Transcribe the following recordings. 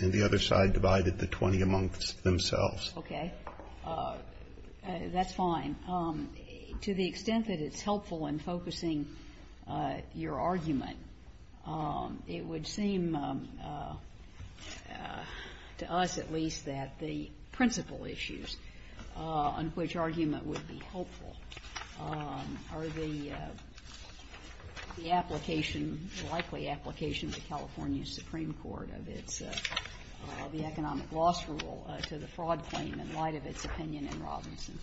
and the other side divided the 20 amongst themselves. Okay, that's fine. To the extent that it's helpful in focusing your argument, it would seem to us at least that the principal issues on which argument would be helpful are the application, the likely application to California Supreme Court of its, the economic loss rule to the fraud claim in light of its opinion in Robinson.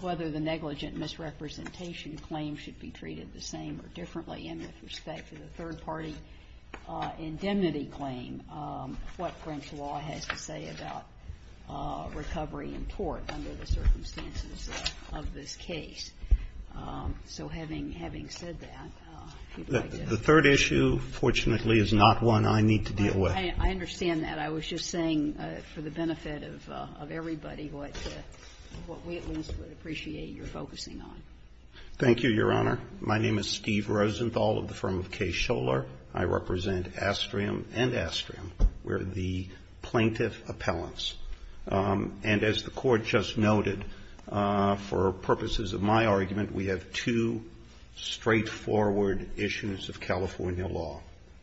Whether the negligent misrepresentation claim should be treated the same or differently in respect to the third party indemnity claim, what Brent's law has to say about recovery in court under the circumstances of this case. So having said that, if you'd like to add to that. The third issue, fortunately, is not one I need to deal with. I understand that. I was just saying for the benefit of everybody what we at least would appreciate your focusing on. Thank you, Your Honor. My name is Steve Rosenthal of the firm of Kay Scholar. I represent Astrium and Astrium. We're the plaintiff appellants. And as the Court just noted, for purposes of my argument, we have two straightforward issues of California law.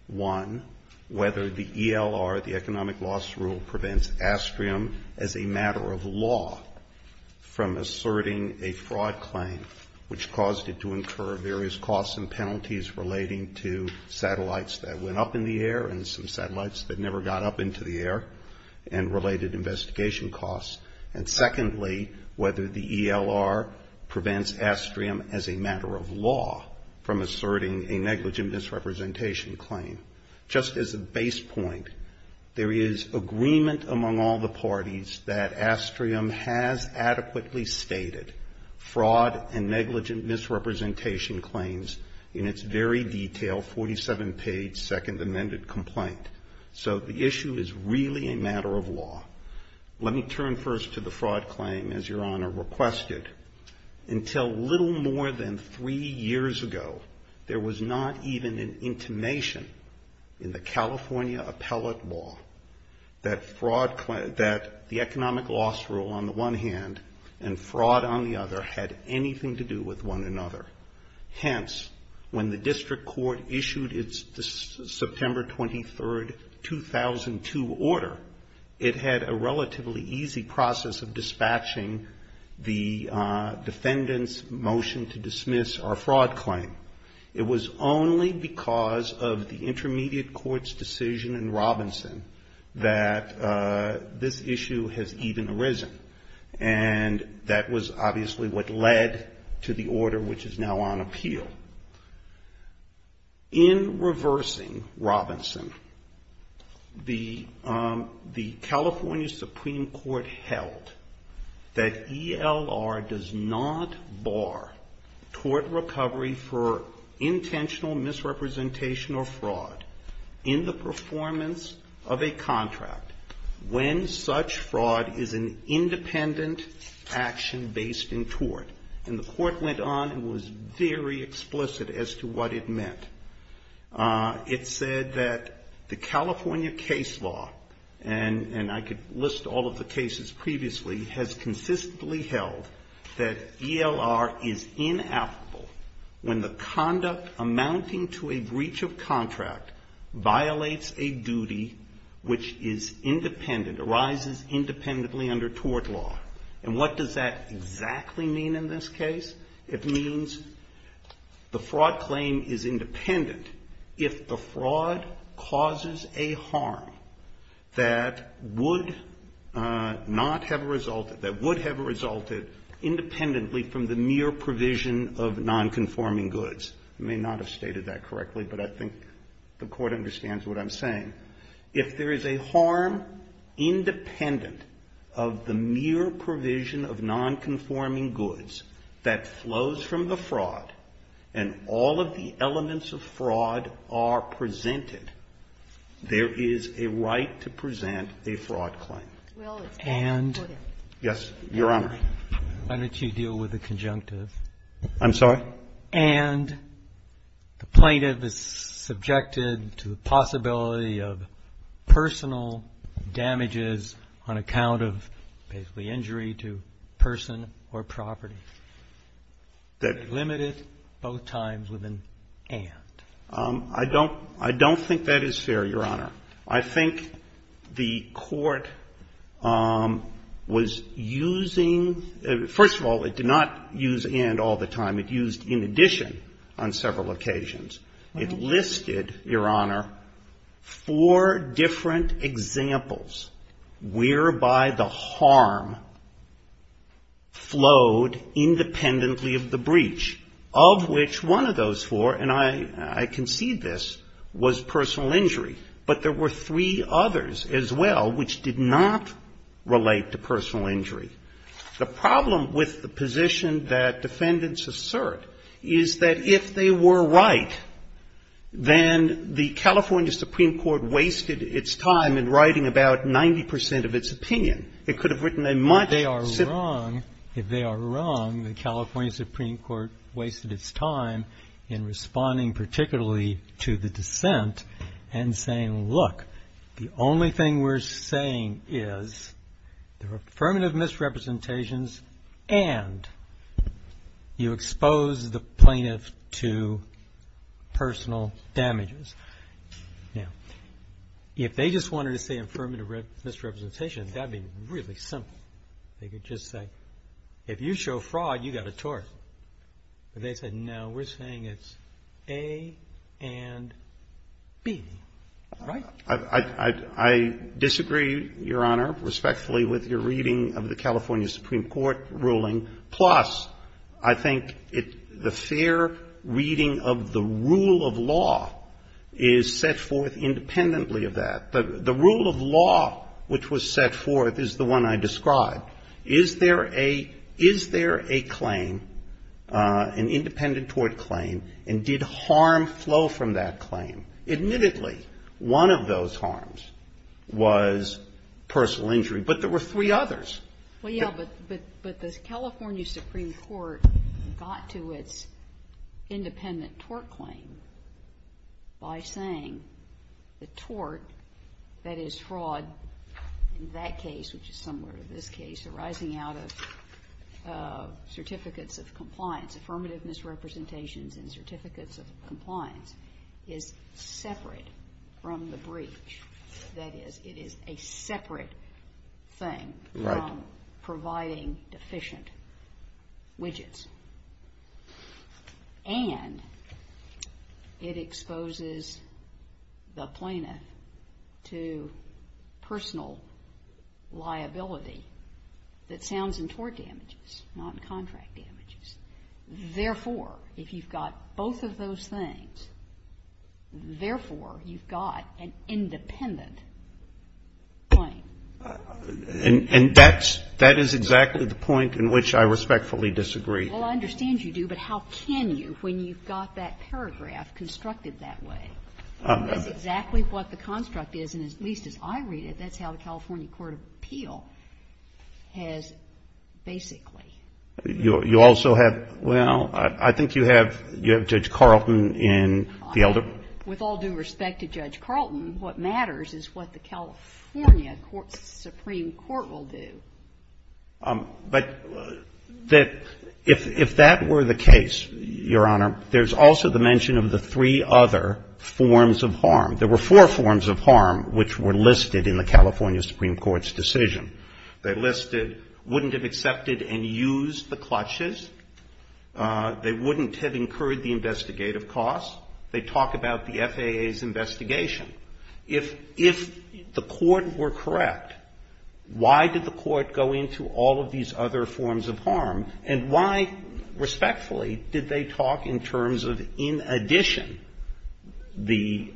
One, whether the ELR, the economic loss rule, prevents Astrium as a matter of law from asserting a fraud claim which caused it to incur various costs and penalties relating to satellites that went up in the air and some satellites that never got up into the air and related investigation costs. And secondly, whether the ELR prevents Astrium as a matter of law from asserting a negligent misrepresentation claim. Just as a base point, there is agreement among all the parties that Astrium has adequately stated fraud and negligent misrepresentation claims in its very detailed 47-page Second Amended Complaint. So the issue is really a matter of law. Let me turn first to the fraud claim, as Your Honor requested. Until little more than three years ago, there was not even an intimation in the California appellate law that the economic loss rule on the one hand and fraud on the other had anything to do with one another. Hence, when the district court issued its September 23, 2002 order, it had a relatively easy process of dispatching the defendant's motion to dismiss our fraud claim. It was only because of the intermediate court's decision in Robinson that this issue has even arisen. And that was obviously what led to the order which is now on appeal. In reversing Robinson, the California Supreme Court held that ELR does not bar tort recovery for intentional misrepresentation or fraud in the performance of a contract when such fraud is an independent action based in tort. And the court went on and was very explicit as to what it meant. It said that the California case law, and I could list all of the cases previously, has consistently held that ELR is inapplicable when the conduct amounting to a breach of contract violates a duty which is independent, arises independently under tort law. And what does that exactly mean in this case? It means the fraud claim is independent if the fraud causes a harm that would not have resulted, that would have resulted independently from the mere provision of non-conforming goods. I may not have stated that correctly, but I think the Court understands what I'm saying. If there is a harm independent of the mere provision of non-conforming goods that flows from the fraud and all of the elements of fraud are presented, there is a right to present a fraud claim. And yes, Your Honor. Why don't you deal with the conjunctive? I'm sorry? And the plaintiff is subjected to the possibility of personal damages on account of basically injury to person or property. That is limited both times with an and. I don't think that is fair, Your Honor. I think the Court was using, first of all, it did not use and all the time. It used in addition on several occasions. It listed, Your Honor, four different examples whereby the harm flowed independently of the breach, of which one of those four, and I concede this, was personal injury. But there were three others as well which did not relate to personal injury. The problem with the position that defendants assert is that if they were right, then the California Supreme Court wasted its time in writing about 90% of its opinion. It could have written a much simpler. If they are wrong, the California Supreme Court wasted its time in responding particularly to the dissent and saying, look, the only thing we're saying is there are affirmative misrepresentations and you expose the plaintiff to personal damages. Now, if they just wanted to say affirmative misrepresentations, that would be really simple. They could just say, if you show fraud, you got a tort. But they said, no, we're saying it's A and B, right? I disagree, Your Honor, respectfully, with your reading of the California Supreme Court ruling. Plus, I think the fair reading of the rule of law is set forth independently of that. The rule of law which was set forth is the one I described. Is there a claim, an independent tort claim, and did harm flow from that claim? Admittedly, one of those harms was personal injury, but there were three others. Well, yeah, but the California Supreme Court got to its independent tort claim by saying the tort, that is fraud, in that case, which is similar to this case, arising out of certificates of compliance, affirmative misrepresentations and separate from the breach, that is, it is a separate thing from providing deficient widgets. And it exposes the plaintiff to personal liability that sounds in tort damages, not in contract damages. Therefore, if you've got both of those things, therefore, you've got an independent claim. And that's, that is exactly the point in which I respectfully disagree. Well, I understand you do, but how can you when you've got that paragraph constructed that way? That's exactly what the construct is, and at least as I read it, that's how the California Court of Appeal has basically. You also have, well, I think you have Judge Carlton in the elder. With all due respect to Judge Carlton, what matters is what the California Supreme Court will do. But if that were the case, Your Honor, there's also the mention of the three other forms of harm. There were four forms of harm which were listed in the California Supreme Court's decision. They listed, wouldn't have accepted and used the clutches. They wouldn't have incurred the investigative costs. They talk about the FAA's investigation. If the court were correct, why did the court go into all of these other forms of harm? And why, respectfully, did they talk in terms of in addition the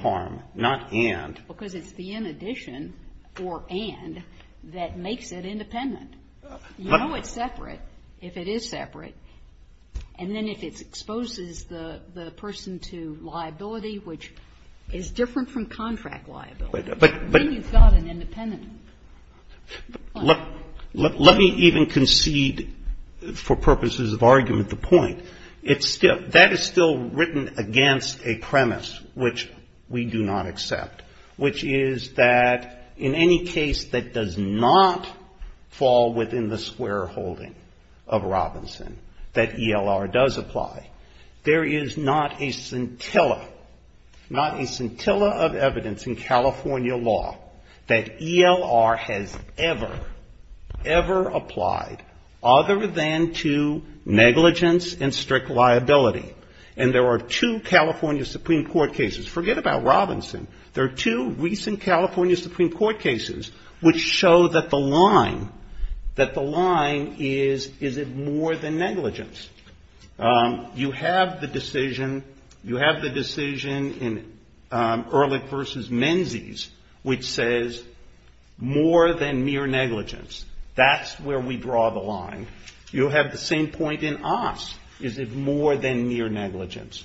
harm, not and? Because it's the in addition or and that makes it independent. You know it's separate if it is separate, and then if it exposes the person to liability, which is different from contract liability, then you've got an independent. Let me even concede, for purposes of argument, the point. It's still, that is still written against a premise which we do not accept. Which is that in any case that does not fall within the square holding of Robinson, that ELR does apply. There is not a scintilla, not a scintilla of evidence in California law that ELR has ever, ever applied other than to negligence and strict liability. And there are two California Supreme Court cases, forget about Robinson. There are two recent California Supreme Court cases which show that the line, that the line is, is it more than negligence? You have the decision, you have the decision in Ehrlich versus Menzies, which says more than mere negligence. That's where we draw the line. You have the same point in Oss. Is it more than mere negligence?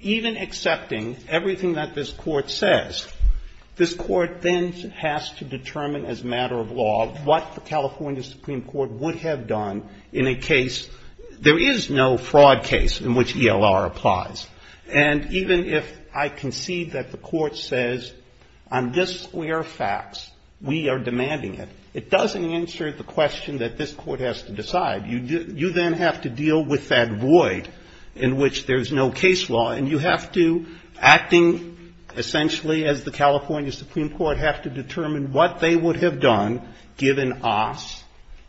Even accepting everything that this court says, this court then has to determine as a matter of law what the California Supreme Court would have done in a case. There is no fraud case in which ELR applies. And even if I concede that the court says, on this square fax, we are demanding it. It doesn't answer the question that this court has to decide. You then have to deal with that void in which there's no case law. And you have to, acting essentially as the California Supreme Court, have to determine what they would have done given Oss,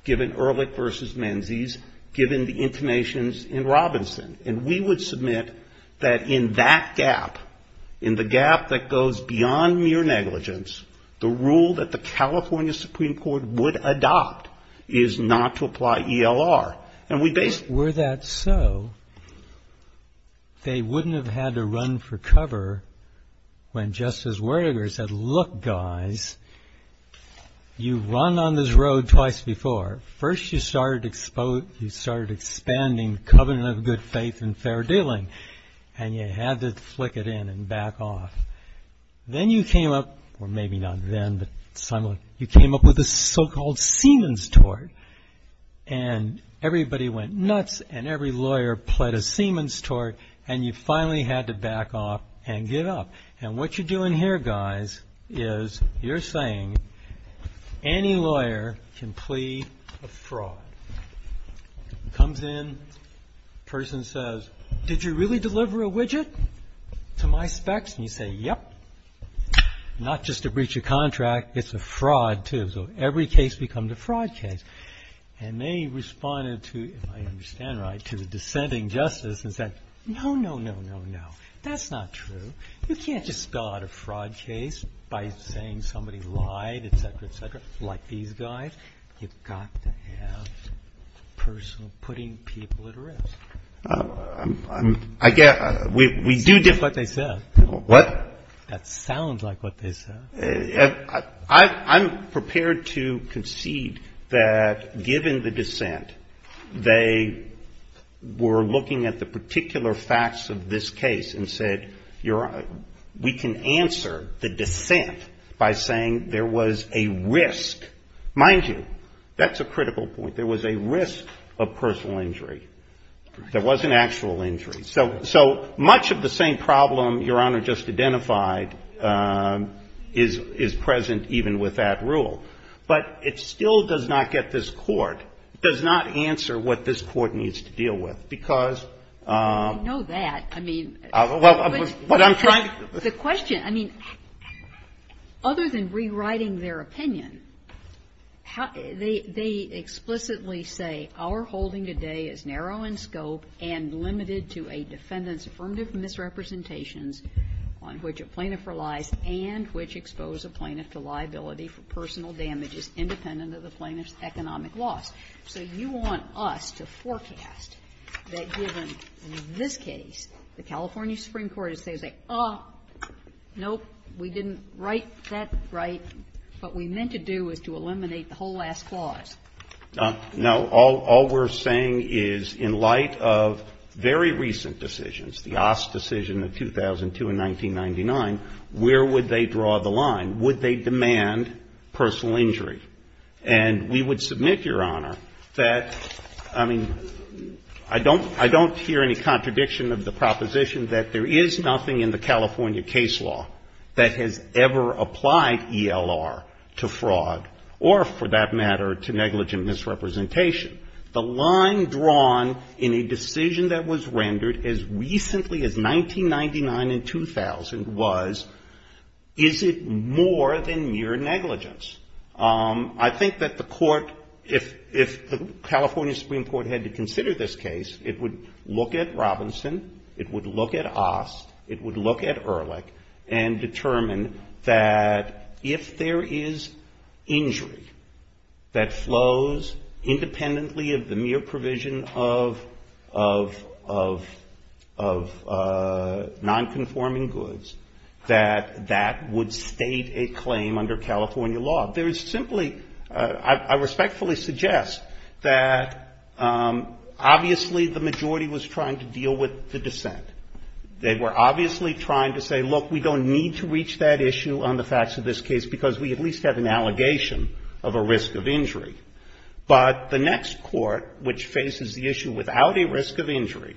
given Ehrlich versus Menzies, given the intimations in Robinson. And we would submit that in that gap, in the gap that goes beyond mere negligence, the rule that the California Supreme Court would adopt is not to apply ELR. And we basically... Were that so, they wouldn't have had to run for cover when Justice Werdegar said, look guys, you've run on this road twice before. First you started expanding covenant of good faith and fair dealing. And you had to flick it in and back off. Then you came up, or maybe not then, but somewhat, you came up with a so-called Siemens tort. And everybody went nuts, and every lawyer pled a Siemens tort, and you finally had to back off and give up. And what you're doing here, guys, is you're saying any lawyer can plea a fraud. Comes in, person says, did you really deliver a widget to my specs? And you say, yep. Not just a breach of contract, it's a fraud too. So every case becomes a fraud case. And they responded to, if I understand right, to dissenting justice and said, no, no, no, no, no. That's not true. You can't just spell out a fraud case by saying somebody lied, et cetera, et cetera, like these guys. You've got to have a person putting people at risk. I guess we do differ. That's what they said. What? That sounds like what they said. I'm prepared to concede that given the dissent, they were looking at the particular facts of this case and said, we can answer the dissent by saying there was a risk. Mind you, that's a critical point. There was a risk of personal injury. There wasn't actual injury. So much of the same problem Your Honor just identified is present even with that rule. But it still does not get this court, does not answer what this court needs to deal with. Because. I know that. I mean. Well, what I'm trying to. The question, I mean, other than rewriting their opinion, how, they, they explicitly say our holding today is narrow in scope and limited to a defendant's affirmative misrepresentations on which a plaintiff relies and which expose a plaintiff to liability for personal damages independent of the plaintiff's economic loss. So you want us to forecast that given, in this case, the California Supreme Court is saying, oh, nope, we didn't write that right. What we meant to do is to eliminate the whole last clause. Now, all we're saying is in light of very recent decisions, the Ost decision of 2002 and 1999, where would they draw the line? Would they demand personal injury? And we would submit, Your Honor, that, I mean, I don't, I don't hear any contradiction of the proposition that there is nothing in the California case law that has ever applied ELR to fraud or, for that matter, to negligent misrepresentation. The line drawn in a decision that was rendered as recently as 1999 and 2000 was, is it more than mere negligence? I think that the court, if the California Supreme Court had to consider this case, it would look at Robinson, it would look at Ost, it would look at Ehrlich, and determine that if there is injury that flows independently of the mere provision of nonconforming goods, that that would state a claim under California law. There is simply, I respectfully suggest that obviously the majority was trying to deal with the dissent. They were obviously trying to say, look, we don't need to reach that issue on the facts of this case because we at least have an allegation of a risk of injury. But the next court, which faces the issue without a risk of injury,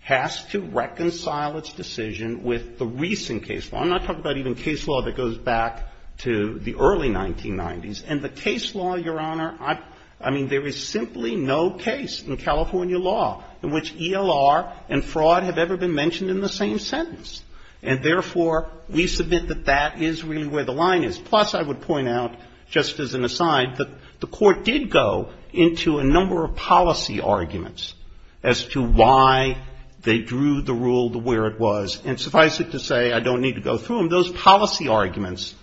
has to reconcile its decision with the recent case law. I'm not talking about even case law that goes back to the early 1990s. And the case law, Your Honor, I, I mean, there is simply no case in California law in which ELR and fraud have ever been mentioned in the same sentence. And therefore, we submit that that is really where the line is. Plus, I would point out, just as an aside, that the court did go into a number of policy arguments as to why they drew the rule to where it was. And suffice it to say, I don't need to go through them. Those policy arguments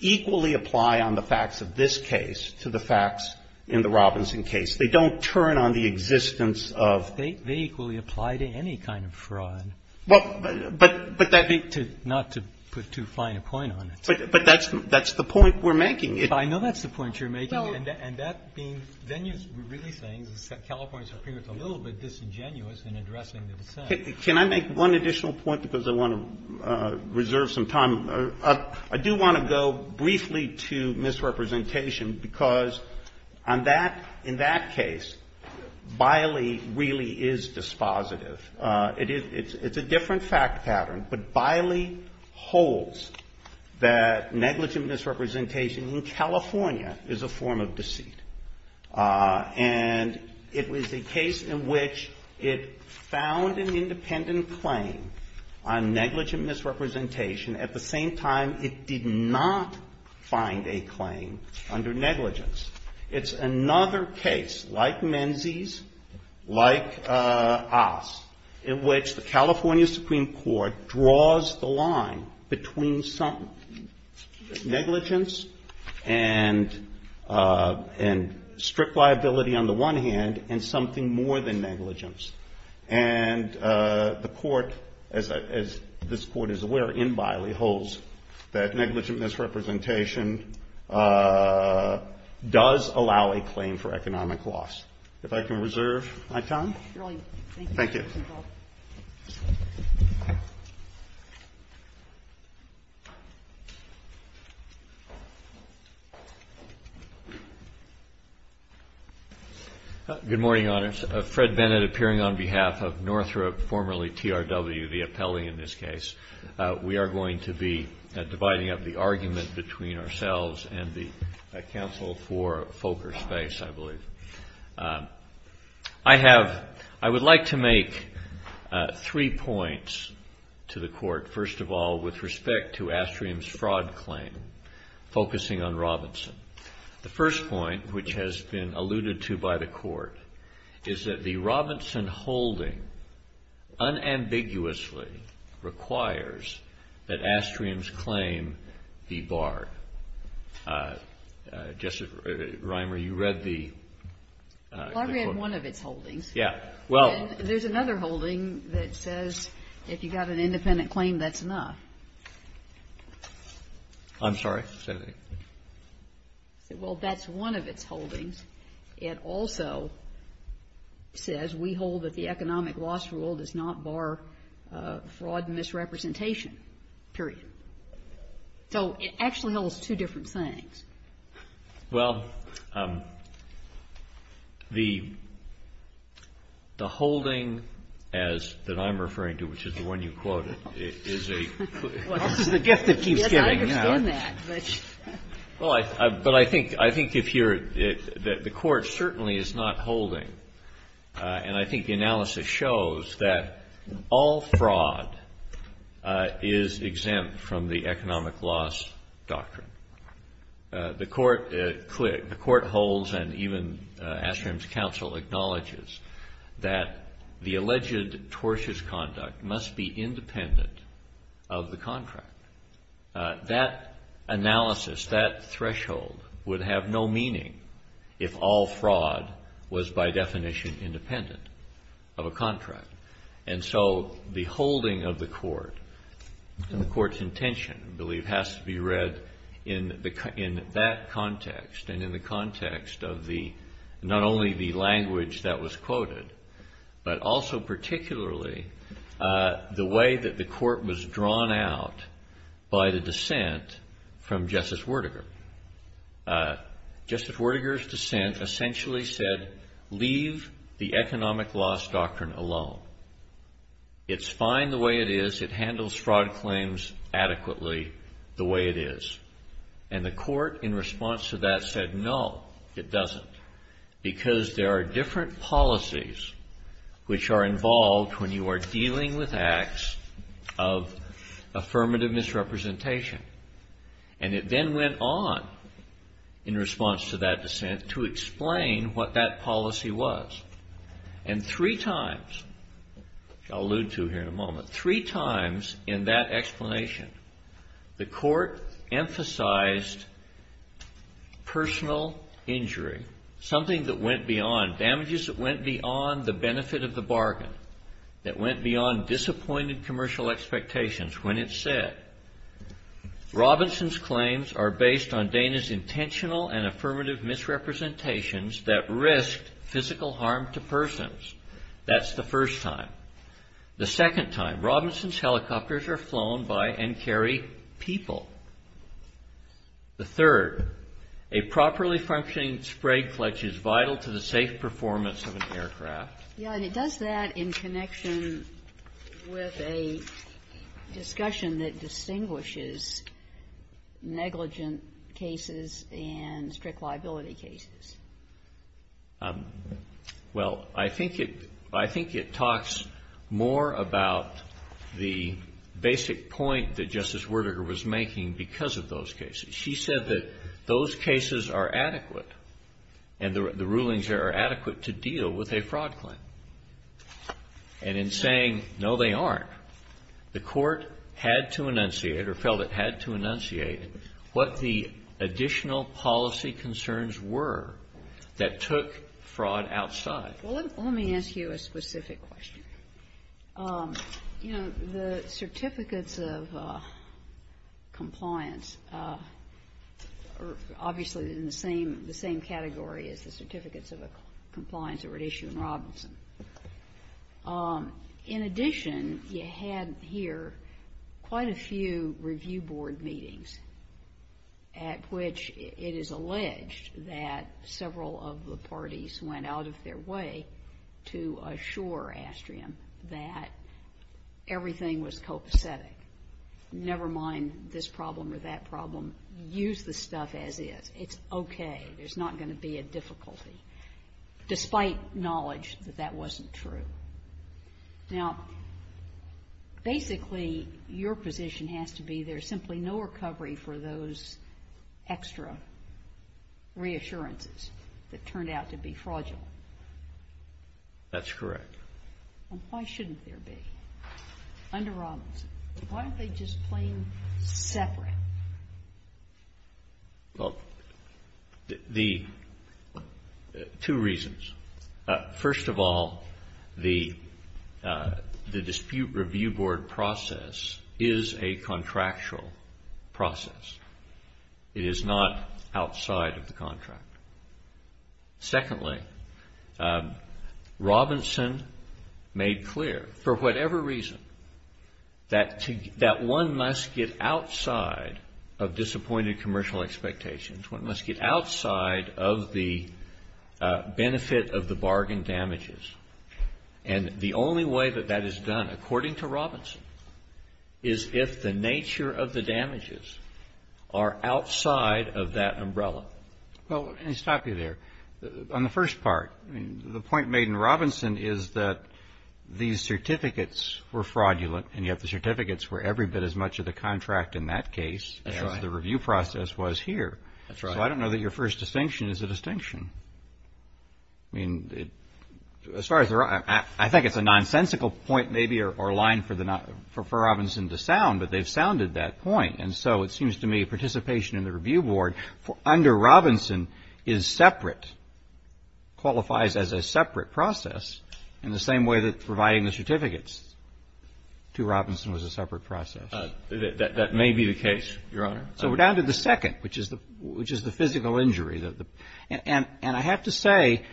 equally apply on the facts of this case to the facts in the Robinson case. They don't turn on the existence of- They, they equally apply to any kind of fraud. Well, but, but that- Not to put too fine a point on it. But, but that's, that's the point we're making. I know that's the point you're making. And that being, then you're really saying the California Supreme Court is a little bit disingenuous in addressing the dissent. Can I make one additional point, because I want to reserve some time? I do want to go briefly to misrepresentation, because on that, in that case, Biley really is dispositive. It is, it's, it's a different fact pattern, but Biley holds that negligent misrepresentation in California is a form of deceit. And it was a case in which it found an independent claim on negligent misrepresentation at the same time it did not find a claim under negligence. It's another case, like Menzies, like Oss, in which the California Supreme Court draws the line between some negligence and, and strict liability on the one hand, and something more than negligence. And the court, as, as this court is aware in Biley, holds that negligent misrepresentation does allow a claim for economic loss. If I can reserve my time. Thank you. Good morning, honors. Fred Bennett appearing on behalf of Northrop, formerly TRW, the appellee in this case, we are going to be dividing up the argument between ourselves and the counsel for Fokker Space, I believe. I have, I would like to make three points to the court. First of all, with respect to Astrium's fraud claim, focusing on Robinson. The first point, which has been alluded to by the court, is that the Robinson holding unambiguously requires that Astrium's claim be barred. Jess, Reimer, you read the. I read one of its holdings. Yeah. Well. There's another holding that says if you got an independent claim, that's enough. I'm sorry. Say that again. Well, that's one of its holdings. It also says we hold that the economic loss rule does not bar fraud and misrepresentation, period. So it actually holds two different things. Well, the holding as, that I'm referring to, which is the one you quoted, is a. Well, this is the gift that keeps giving. Yes, I understand that, but. Well, I, but I think, I think if you're, the court certainly is not holding, and I think the analysis shows that all fraud is exempt from the economic loss doctrine. The court holds, and even Astrium's counsel acknowledges, that the alleged tortious conduct must be independent of the contract. That analysis, that threshold, would have no meaning if all fraud was by definition independent of a contract. And so the holding of the court, the court's intention, I believe, has to be read in that context and in the context of the, not only the language that was quoted, but also particularly the way that the court was drawn out by the dissent from Justice Werdegar. Justice Werdegar's dissent essentially said, leave the economic loss doctrine alone. It's fine the way it is. It handles fraud claims adequately the way it is. And the court, in response to that, said, no, it doesn't, because there are different policies which are involved when you are dealing with acts of affirmative misrepresentation. And it then went on, in response to that dissent, to explain what that policy was. And three times, which I'll allude to here in a moment, three times in that explanation, the court emphasized personal injury, something that went beyond, damages that went beyond the benefit of the bargain, that went beyond disappointed commercial expectations when it said, Robinson's claims are based on Dana's intentional and affirmative misrepresentations that risked physical harm to persons. That's the first time. The second time, Robinson's helicopters are flown by and carry people. The third, a properly functioning spray clutch is vital to the safe performance of an aircraft. Yeah, and it does that in connection with a discussion that distinguishes negligent cases and strict liability cases. Well, I think it talks more about the basic point that Justice Werdegar was making because of those cases. She said that those cases are adequate and the rulings are adequate to deal with a fraud claim. And in saying, no, they aren't, the court had to enunciate or felt it had to enunciate what the additional policy concerns were that took fraud outside. Well, let me ask you a specific question. You know, the certificates of compliance are obviously in the same category as the certificates of compliance that were at issue in Robinson. In addition, you had here quite a few review board meetings at which it is alleged that several of the parties went out of their way to assure Astrium that everything was copacetic. Never mind this problem or that problem. Use the stuff as is. It's okay. There's not going to be a difficulty. Despite knowledge that that wasn't true. Now, basically, your position has to be there's simply no recovery for those extra reassurances that turned out to be fraudulent. That's correct. Why shouldn't there be? Under Robinson. Why aren't they just plain separate? Well, two reasons. First of all, the dispute review board process is a contractual process. It is not outside of the contract. Secondly, Robinson made clear, for whatever reason, that one must get outside of the contract of disappointed commercial expectations. One must get outside of the benefit of the bargain damages. And the only way that that is done, according to Robinson, is if the nature of the damages are outside of that umbrella. Well, let me stop you there. On the first part, the point made in Robinson is that these certificates were fraudulent, and yet the certificates were every bit as much of the contract in that case as the review process was here. So I don't know that your first distinction is a distinction. I think it's a nonsensical point, maybe, or line for Robinson to sound, but they've sounded that point. And so it seems to me participation in the review board under Robinson is separate, qualifies as a separate process, in the same way that providing the certificates to Robinson was a separate process. That may be the case, Your Honor. So we're down to the second, which is the physical injury. And I have to say,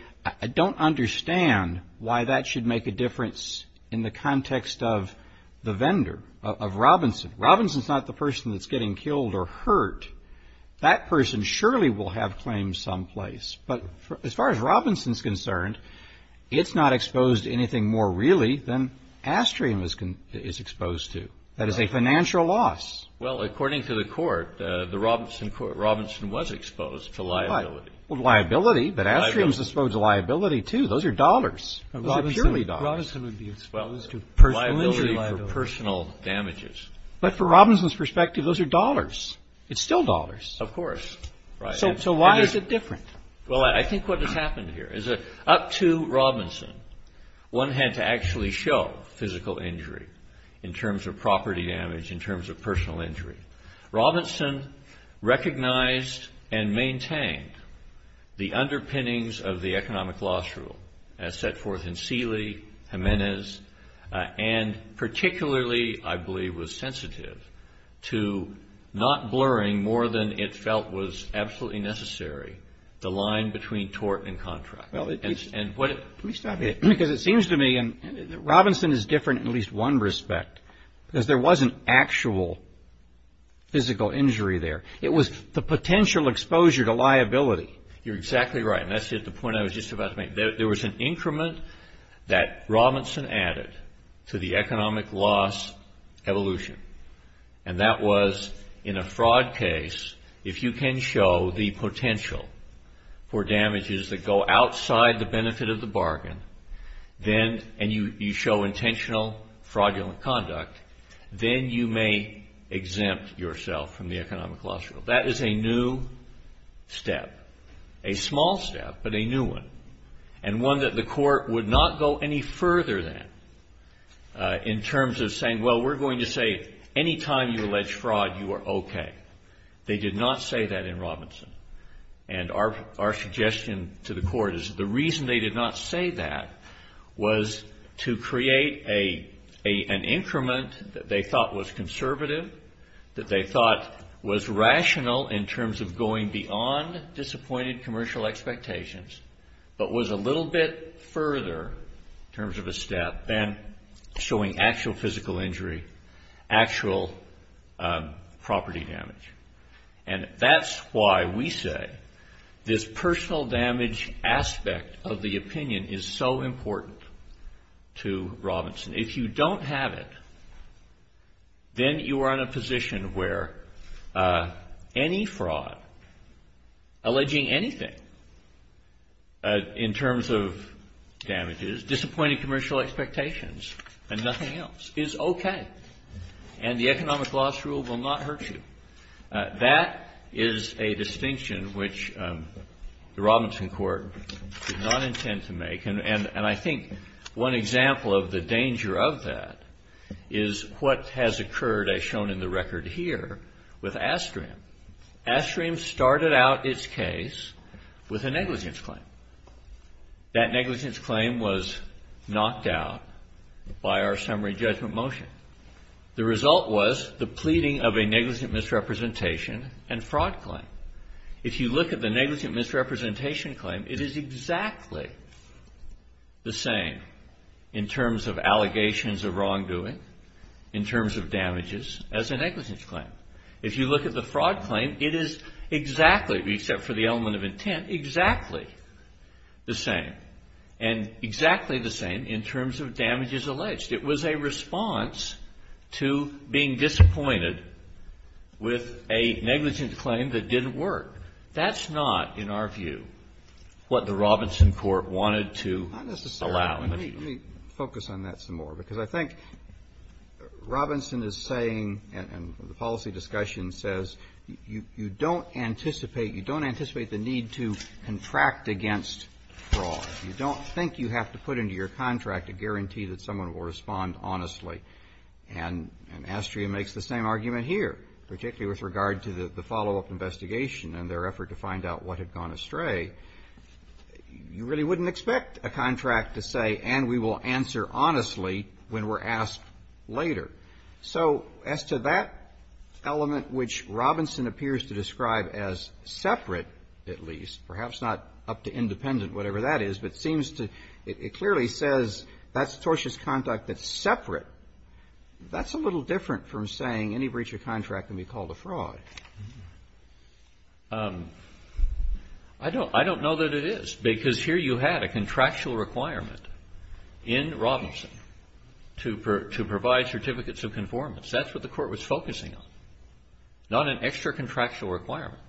I don't understand why that should make a difference in the context of the vendor, of Robinson. Robinson's not the person that's getting killed or hurt. That person surely will have claims someplace. But as far as Robinson's concerned, it's not exposed to anything more really than Astrium is exposed to. That is a financial loss. Well, according to the court, Robinson was exposed to liability. Well, liability, but Astrium's exposed to liability, too. Those are dollars. Those are purely dollars. Robinson would be exposed to personal injury liability. Liability for personal damages. But for Robinson's perspective, those are dollars. It's still dollars. Of course. So why is it different? Well, I think what has happened here is up to Robinson, one had to actually show physical injury in terms of property damage, in terms of personal injury. Robinson recognized and maintained the underpinnings of the economic loss rule as set forth in Seeley, Jimenez, and particularly, I believe, was sensitive to not blurring more than it felt was absolutely necessary the line between tort and contract. Well, let me stop you. Because it seems to me that Robinson is different in at least one respect. Because there wasn't actual physical injury there. It was the potential exposure to liability. You're exactly right. And that's the point I was just about to make. There was an increment that Robinson added to the economic loss evolution. And that was in a fraud case, if you can show the potential for damages that go outside the benefit of the bargain, and you show intentional fraudulent conduct, then you may exempt yourself from the economic loss rule. That is a new step. A small step, but a new one. And one that the court would not go any further than in terms of saying, well, we're going to say any time you allege fraud, you are okay. They did not say that in Robinson. And our suggestion to the court is the reason they did not say that was to create an increment that they thought was conservative, that they thought was rational in terms of going beyond disappointed commercial expectations, but was a little bit further in terms of a step than showing actual physical injury, actual property damage. And that's why we say this personal damage aspect of the opinion is so important to Robinson. If you don't have it, then you are in a position where any fraud alleging anything in terms of damages, disappointed commercial expectations, and nothing else is okay. And the economic loss rule will not hurt you. That is a distinction which the Robinson court did not intend to make. And I think one example of the danger of that is what has occurred as shown in the record here with Astram. Astram started out its case with a negligence claim. That negligence claim was knocked out by our summary judgment motion. The result was the pleading of a negligent misrepresentation and fraud claim. If you look at the negligent misrepresentation claim, it is exactly the same in terms of allegations of wrongdoing, in terms of damages, as a negligence claim. If you look at the fraud claim, it is exactly, except for the element of intent, exactly the same. And exactly the same in terms of damages alleged. It was a response to being disappointed with a negligence claim that didn't work. That's not, in our view, what the Robinson court wanted to allow. Robertson is saying, and the policy discussion says, you don't anticipate, you don't anticipate the need to contract against fraud. You don't think you have to put into your contract a guarantee that someone will respond honestly. And Astrea makes the same argument here, particularly with regard to the follow-up investigation and their effort to find out what had gone astray. You really wouldn't expect a contract to say, and we will answer honestly when we're asked later. So as to that element which Robinson appears to describe as separate, at least, perhaps not up to independent, whatever that is, but seems to, it clearly says that's tortious conduct that's separate. That's a little different from saying any breach of contract can be called a fraud. I don't know that it is, because here you had a contractual requirement in Robinson to provide certificates of conformance. That's what the court was focusing on, not an extra contractual requirement.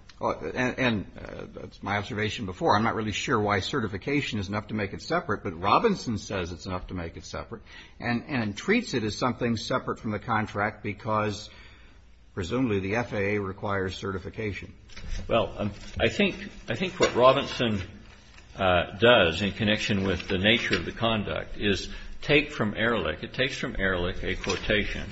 And that's my observation before. I'm not really sure why certification is enough to make it separate, but Robinson says it's enough to make it separate and treats it as something separate from the contract because, presumably, the FAA requires certification. Well, I think what Robinson does in connection with the nature of the conduct is take from Ehrlich. It takes from Ehrlich a quotation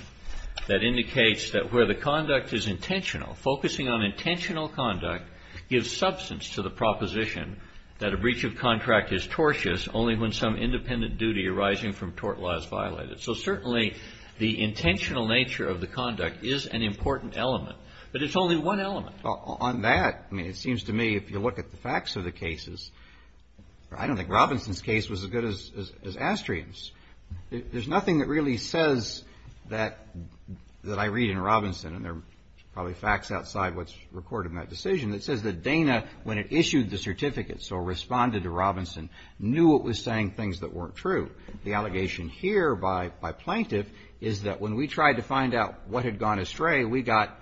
that indicates that where the conduct is intentional, focusing on intentional conduct gives substance to the proposition that a breach of contract is tortious only when some independent duty arising from tort law is violated. So, certainly, the intentional nature of the conduct is an important element, but it's only one element. Well, on that, I mean, it seems to me if you look at the facts of the cases, I don't think Robinson's case was as good as Astrian's. There's nothing that really says that I read in Robinson, and there are probably facts outside what's recorded in that decision, that says that Dana, when it issued the certificate, so responded to Robinson, knew it was saying things that weren't true. The allegation here by plaintiff is that when we tried to find out what had gone astray, we got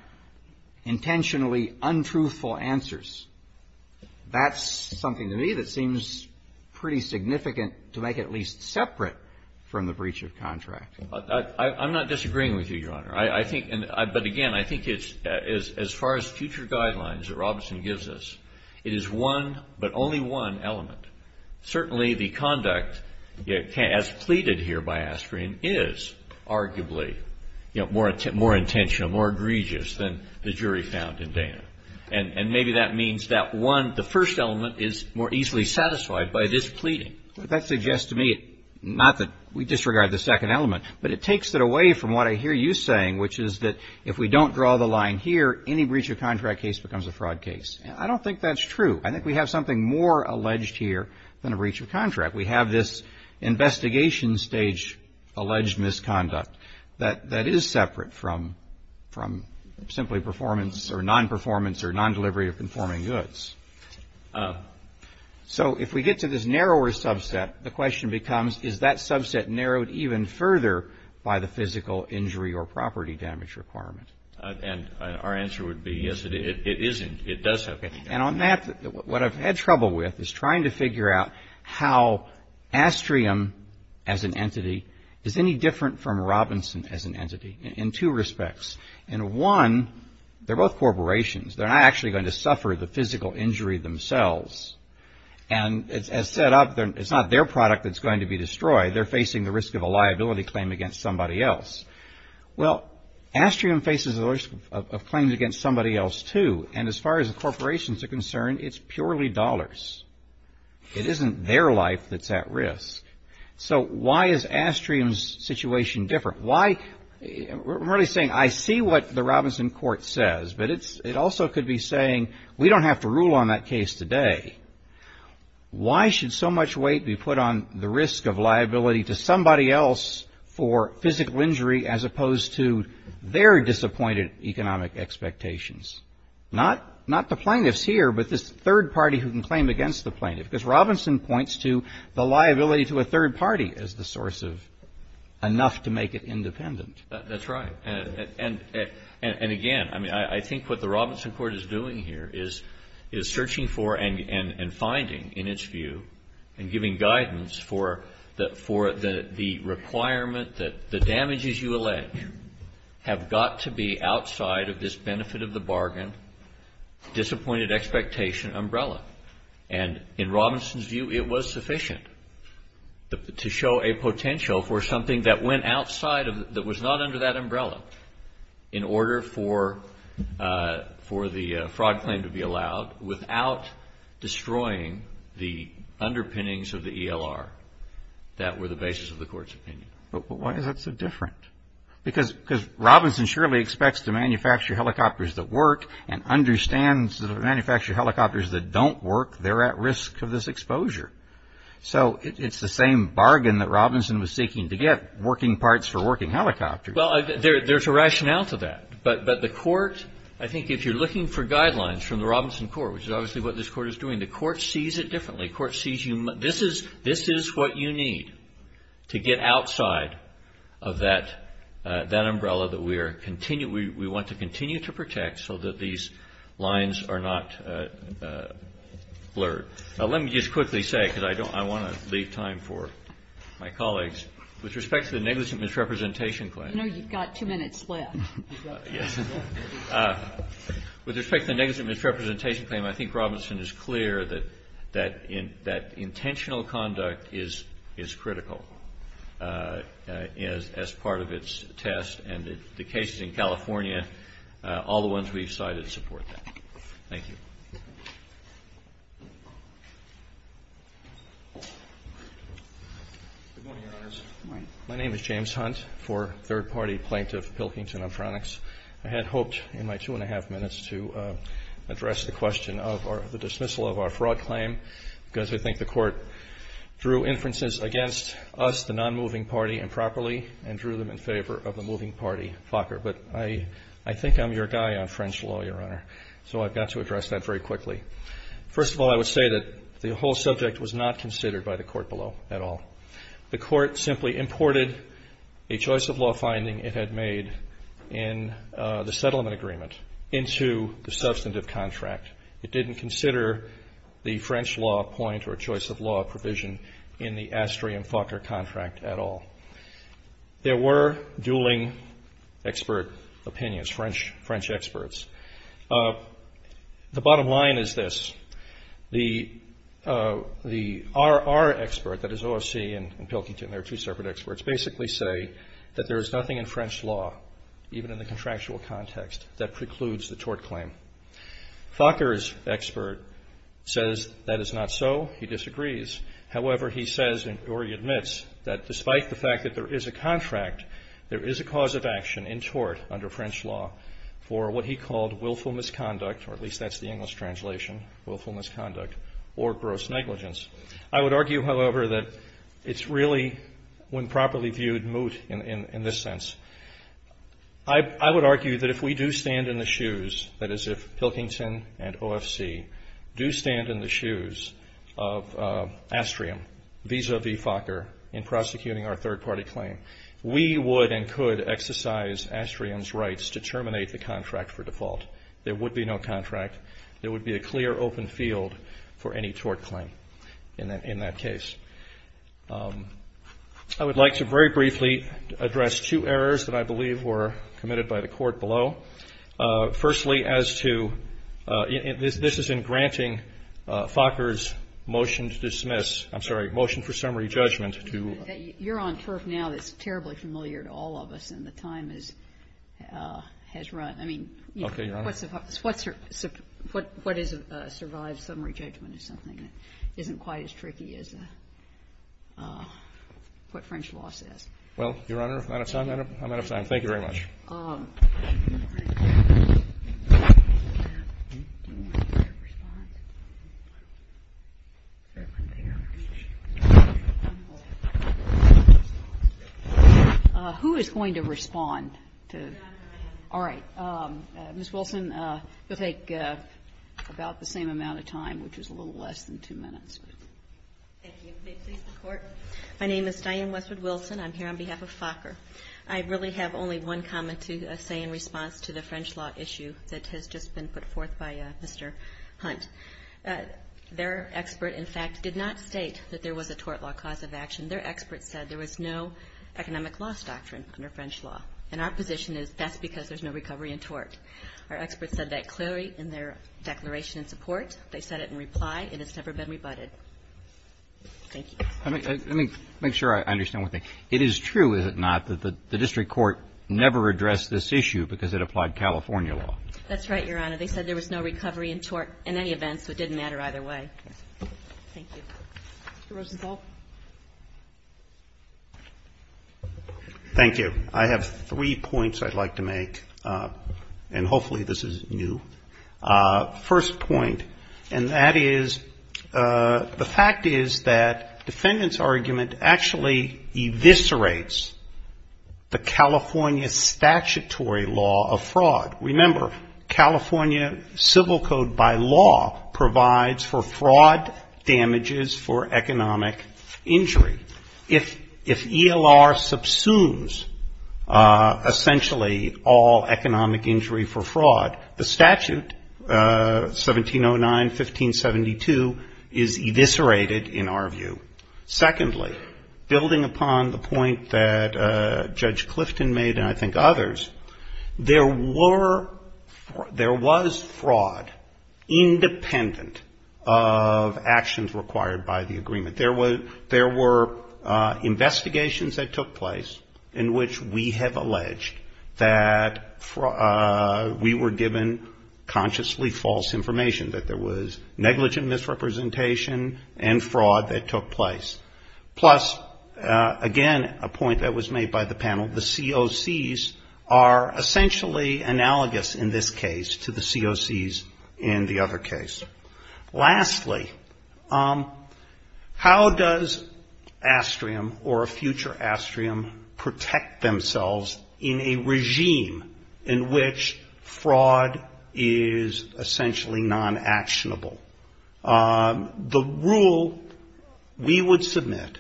intentionally untruthful answers. That's something to me that seems pretty significant to make it at least separate from the breach of contract. I'm not disagreeing with you, Your Honor. I think, but again, I think as far as future guidelines that Robinson gives us, it is one, but only one element. Certainly, the conduct as pleaded here by Astrian is arguably more intentional, more egregious than the jury found in Dana. And maybe that means that one, the first element is more easily satisfied by this pleading. That suggests to me not that we disregard the second element, but it takes it away from what I hear you saying, which is that if we don't draw the line here, any breach of contract case becomes a fraud case. I don't think that's true. I think we have something more alleged here than a breach of contract. We have this investigation stage alleged misconduct that is separate from simply performance or non-performance or non-delivery of conforming goods. So if we get to this narrower subset, the question becomes, is that subset narrowed even further by the physical injury or property damage requirement? And our answer would be, yes, it isn't. It does have damage. And on that, what I've had trouble with is trying to figure out how Astrium, as an entity, is any different from Robinson as an entity in two respects. In one, they're both corporations. They're not actually going to suffer the physical injury themselves. And as set up, it's not their product that's going to be destroyed. They're facing the risk of a liability claim against somebody else. Well, Astrium faces the risk of claims against somebody else, too. And as far as the corporations are concerned, it's purely dollars. It isn't their life that's at risk. So why is Astrium's situation different? I'm really saying, I see what the Robinson court says, but it also could be saying, we don't have to rule on that case today. Why should so much weight be put on the risk of liability to somebody else for physical injury as opposed to their disappointed economic expectations? Not the plaintiffs here, but this third party who can claim against the plaintiff, because Robinson points to the liability to a third party as the source of enough to make it independent. That's right. And again, I mean, I think what the Robinson court is doing here is searching for and finding, in its view, and giving guidance for the requirement that the damages you allege have got to be outside of this benefit of the bargain, disappointed expectation umbrella. And in Robinson's view, it was sufficient to show a potential for something that went outside, that was not under that umbrella, in order for the fraud claim to be allowed, without destroying the underpinnings of the ELR that were the basis of the court's opinion. But why is that so different? Because Robinson surely expects to manufacture helicopters that work and understands that if they manufacture helicopters that don't work, they're at risk of this exposure. So it's the same bargain that Robinson was seeking to get working parts for working helicopters. Well, there's a rationale to that. But the court, I think if you're looking for guidelines from the Robinson court, which is obviously what this court is doing, the court sees it differently. This is what you need to get outside of that umbrella that we want to continue to protect so that these lines are not blurred. Let me just quickly say, because I want to leave time for my colleagues, with respect to the negligent misrepresentation claim. You know you've got two minutes left. Yes. With respect to the negligent misrepresentation claim, I think Robinson is clear that intentional conduct is critical as part of its test. And the cases in California, all the ones we've cited support that. Thank you. Good morning, Your Honors. Good morning. My name is James Hunt for third-party plaintiff Pilkington Electronics. I had hoped in my two and a half minutes to address the question of the dismissal of our fraud claim because I think the court drew inferences against us, the non-moving party, improperly and drew them in favor of the moving party, Fokker. But I think I'm your guy on French law, Your Honor, so I've got to address that very quickly. First of all, I would say that the whole subject was not considered by the court below at all. The court simply imported a choice of law finding it had made in the settlement agreement into the substantive contract. It didn't consider the French law point or choice of law provision in the Astrea and Fokker contract at all. There were dueling expert opinions, French experts. The bottom line is this. The RR expert, that is OSC and Pilkington, they're two separate experts, basically say that there is nothing in French law, even in the contractual context, that precludes the tort claim. Fokker's expert says that is not so. He disagrees. However, he says, or he admits, that despite the fact that there is a contract, there is a cause of action in tort under French law for what he called willful misconduct, or at least that's the English translation, willful misconduct or gross negligence. I would argue, however, that it's really, when properly viewed, moot in this sense. I would argue that if we do stand in the shoes, that is, if Pilkington and OFC do stand in the shoes of Astrea vis-a-vis Fokker in prosecuting our third-party claim, we would and could exercise Astrea's rights to terminate the contract for default. There would be no contract. There would be a clear open field for any tort claim in that case. I would like to very briefly address two errors that I believe were committed by the Court below. Firstly, as to, this is in granting Fokker's motion to dismiss, I'm sorry, motion for summary judgment to. Kagan. You're on turf now that's terribly familiar to all of us, and the time is, has run. I mean, what is a survived summary judgment is something that isn't quite as tricky as what French law says. Well, Your Honor, if I don't have time, I don't have time. Thank you very much. Who is going to respond to? All right. Ms. Wilson, you'll take about the same amount of time, which is a little less than two minutes. Thank you. May it please the Court. My name is Diane Westwood Wilson. I'm here on behalf of Fokker. I really have only one comment to say in response to the French law issue that has just been put forth by Mr. Hunt. Their expert, in fact, did not state that there was a tort law cause of action. Their expert said there was no economic loss doctrine under French law. And our position is that's because there's no recovery in tort. Our expert said that clearly in their declaration in support. They said it in reply. It has never been rebutted. Thank you. Let me make sure I understand one thing. It is true, is it not, that the district court never addressed this issue because it applied California law? That's right, Your Honor. They said there was no recovery in tort in any event, so it didn't matter either way. Thank you. Mr. Rosenthal. Thank you. I have three points I'd like to make, and hopefully this is new. First point, and that is the fact is that defendant's argument actually eviscerates the California statutory law of fraud. Remember, California civil code by law provides for fraud damages for economic injury. If ELR subsumes, essentially, all economic injury for fraud, the statute 1709, 1572 is eviscerated in our view. Secondly, building upon the point that Judge Clifton made and I think others, there was fraud independent of actions required by the agreement. There were investigations that took place in which we have alleged that we were given consciously false information, that there was negligent misrepresentation and fraud that took place. Plus, again, a point that was made by the panel, the COCs are essentially analogous in this case to the COCs in the other case. Lastly, how does Astrium or a future Astrium protect themselves in a regime in which fraud is essentially non-actionable? The rule we would submit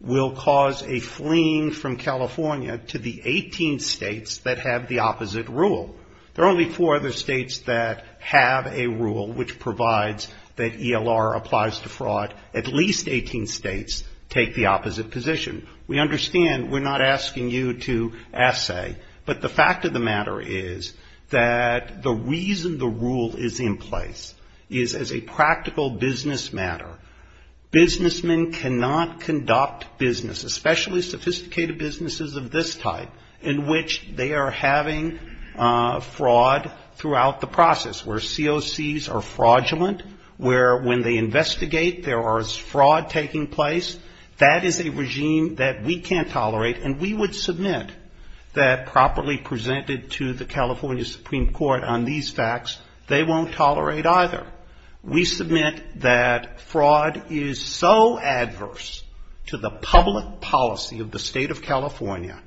will cause a fleeing from California to the 18 states that have the opposite rule. There are only four other states that have a rule which provides that ELR applies to fraud. At least 18 states take the opposite position. We understand we're not asking you to assay, but the fact of the matter is that the reason the rule is in place is as a practical business matter. Businessmen cannot conduct business, especially sophisticated businesses of this type, in which they are having fraud throughout the process, where COCs are fraudulent, where when they So there is no question that we can't tolerate, and we would submit that properly presented to the California Supreme Court on these facts, they won't tolerate either. We submit that fraud is so adverse to the public policy of the State of California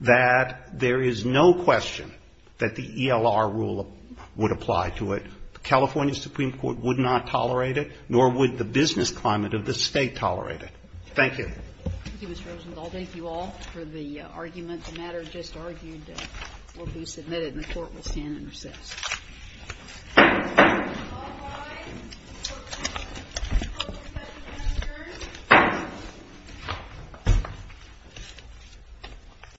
that there is no question that the ELR rule would apply to it. The California Supreme Court would not tolerate it, nor would the business climate of the State tolerate it. Thank you. Thank you, Mr. Rosenthal. Thank you all for the argument. The matter just argued will be submitted, and the Court will stand and recess. Thank you.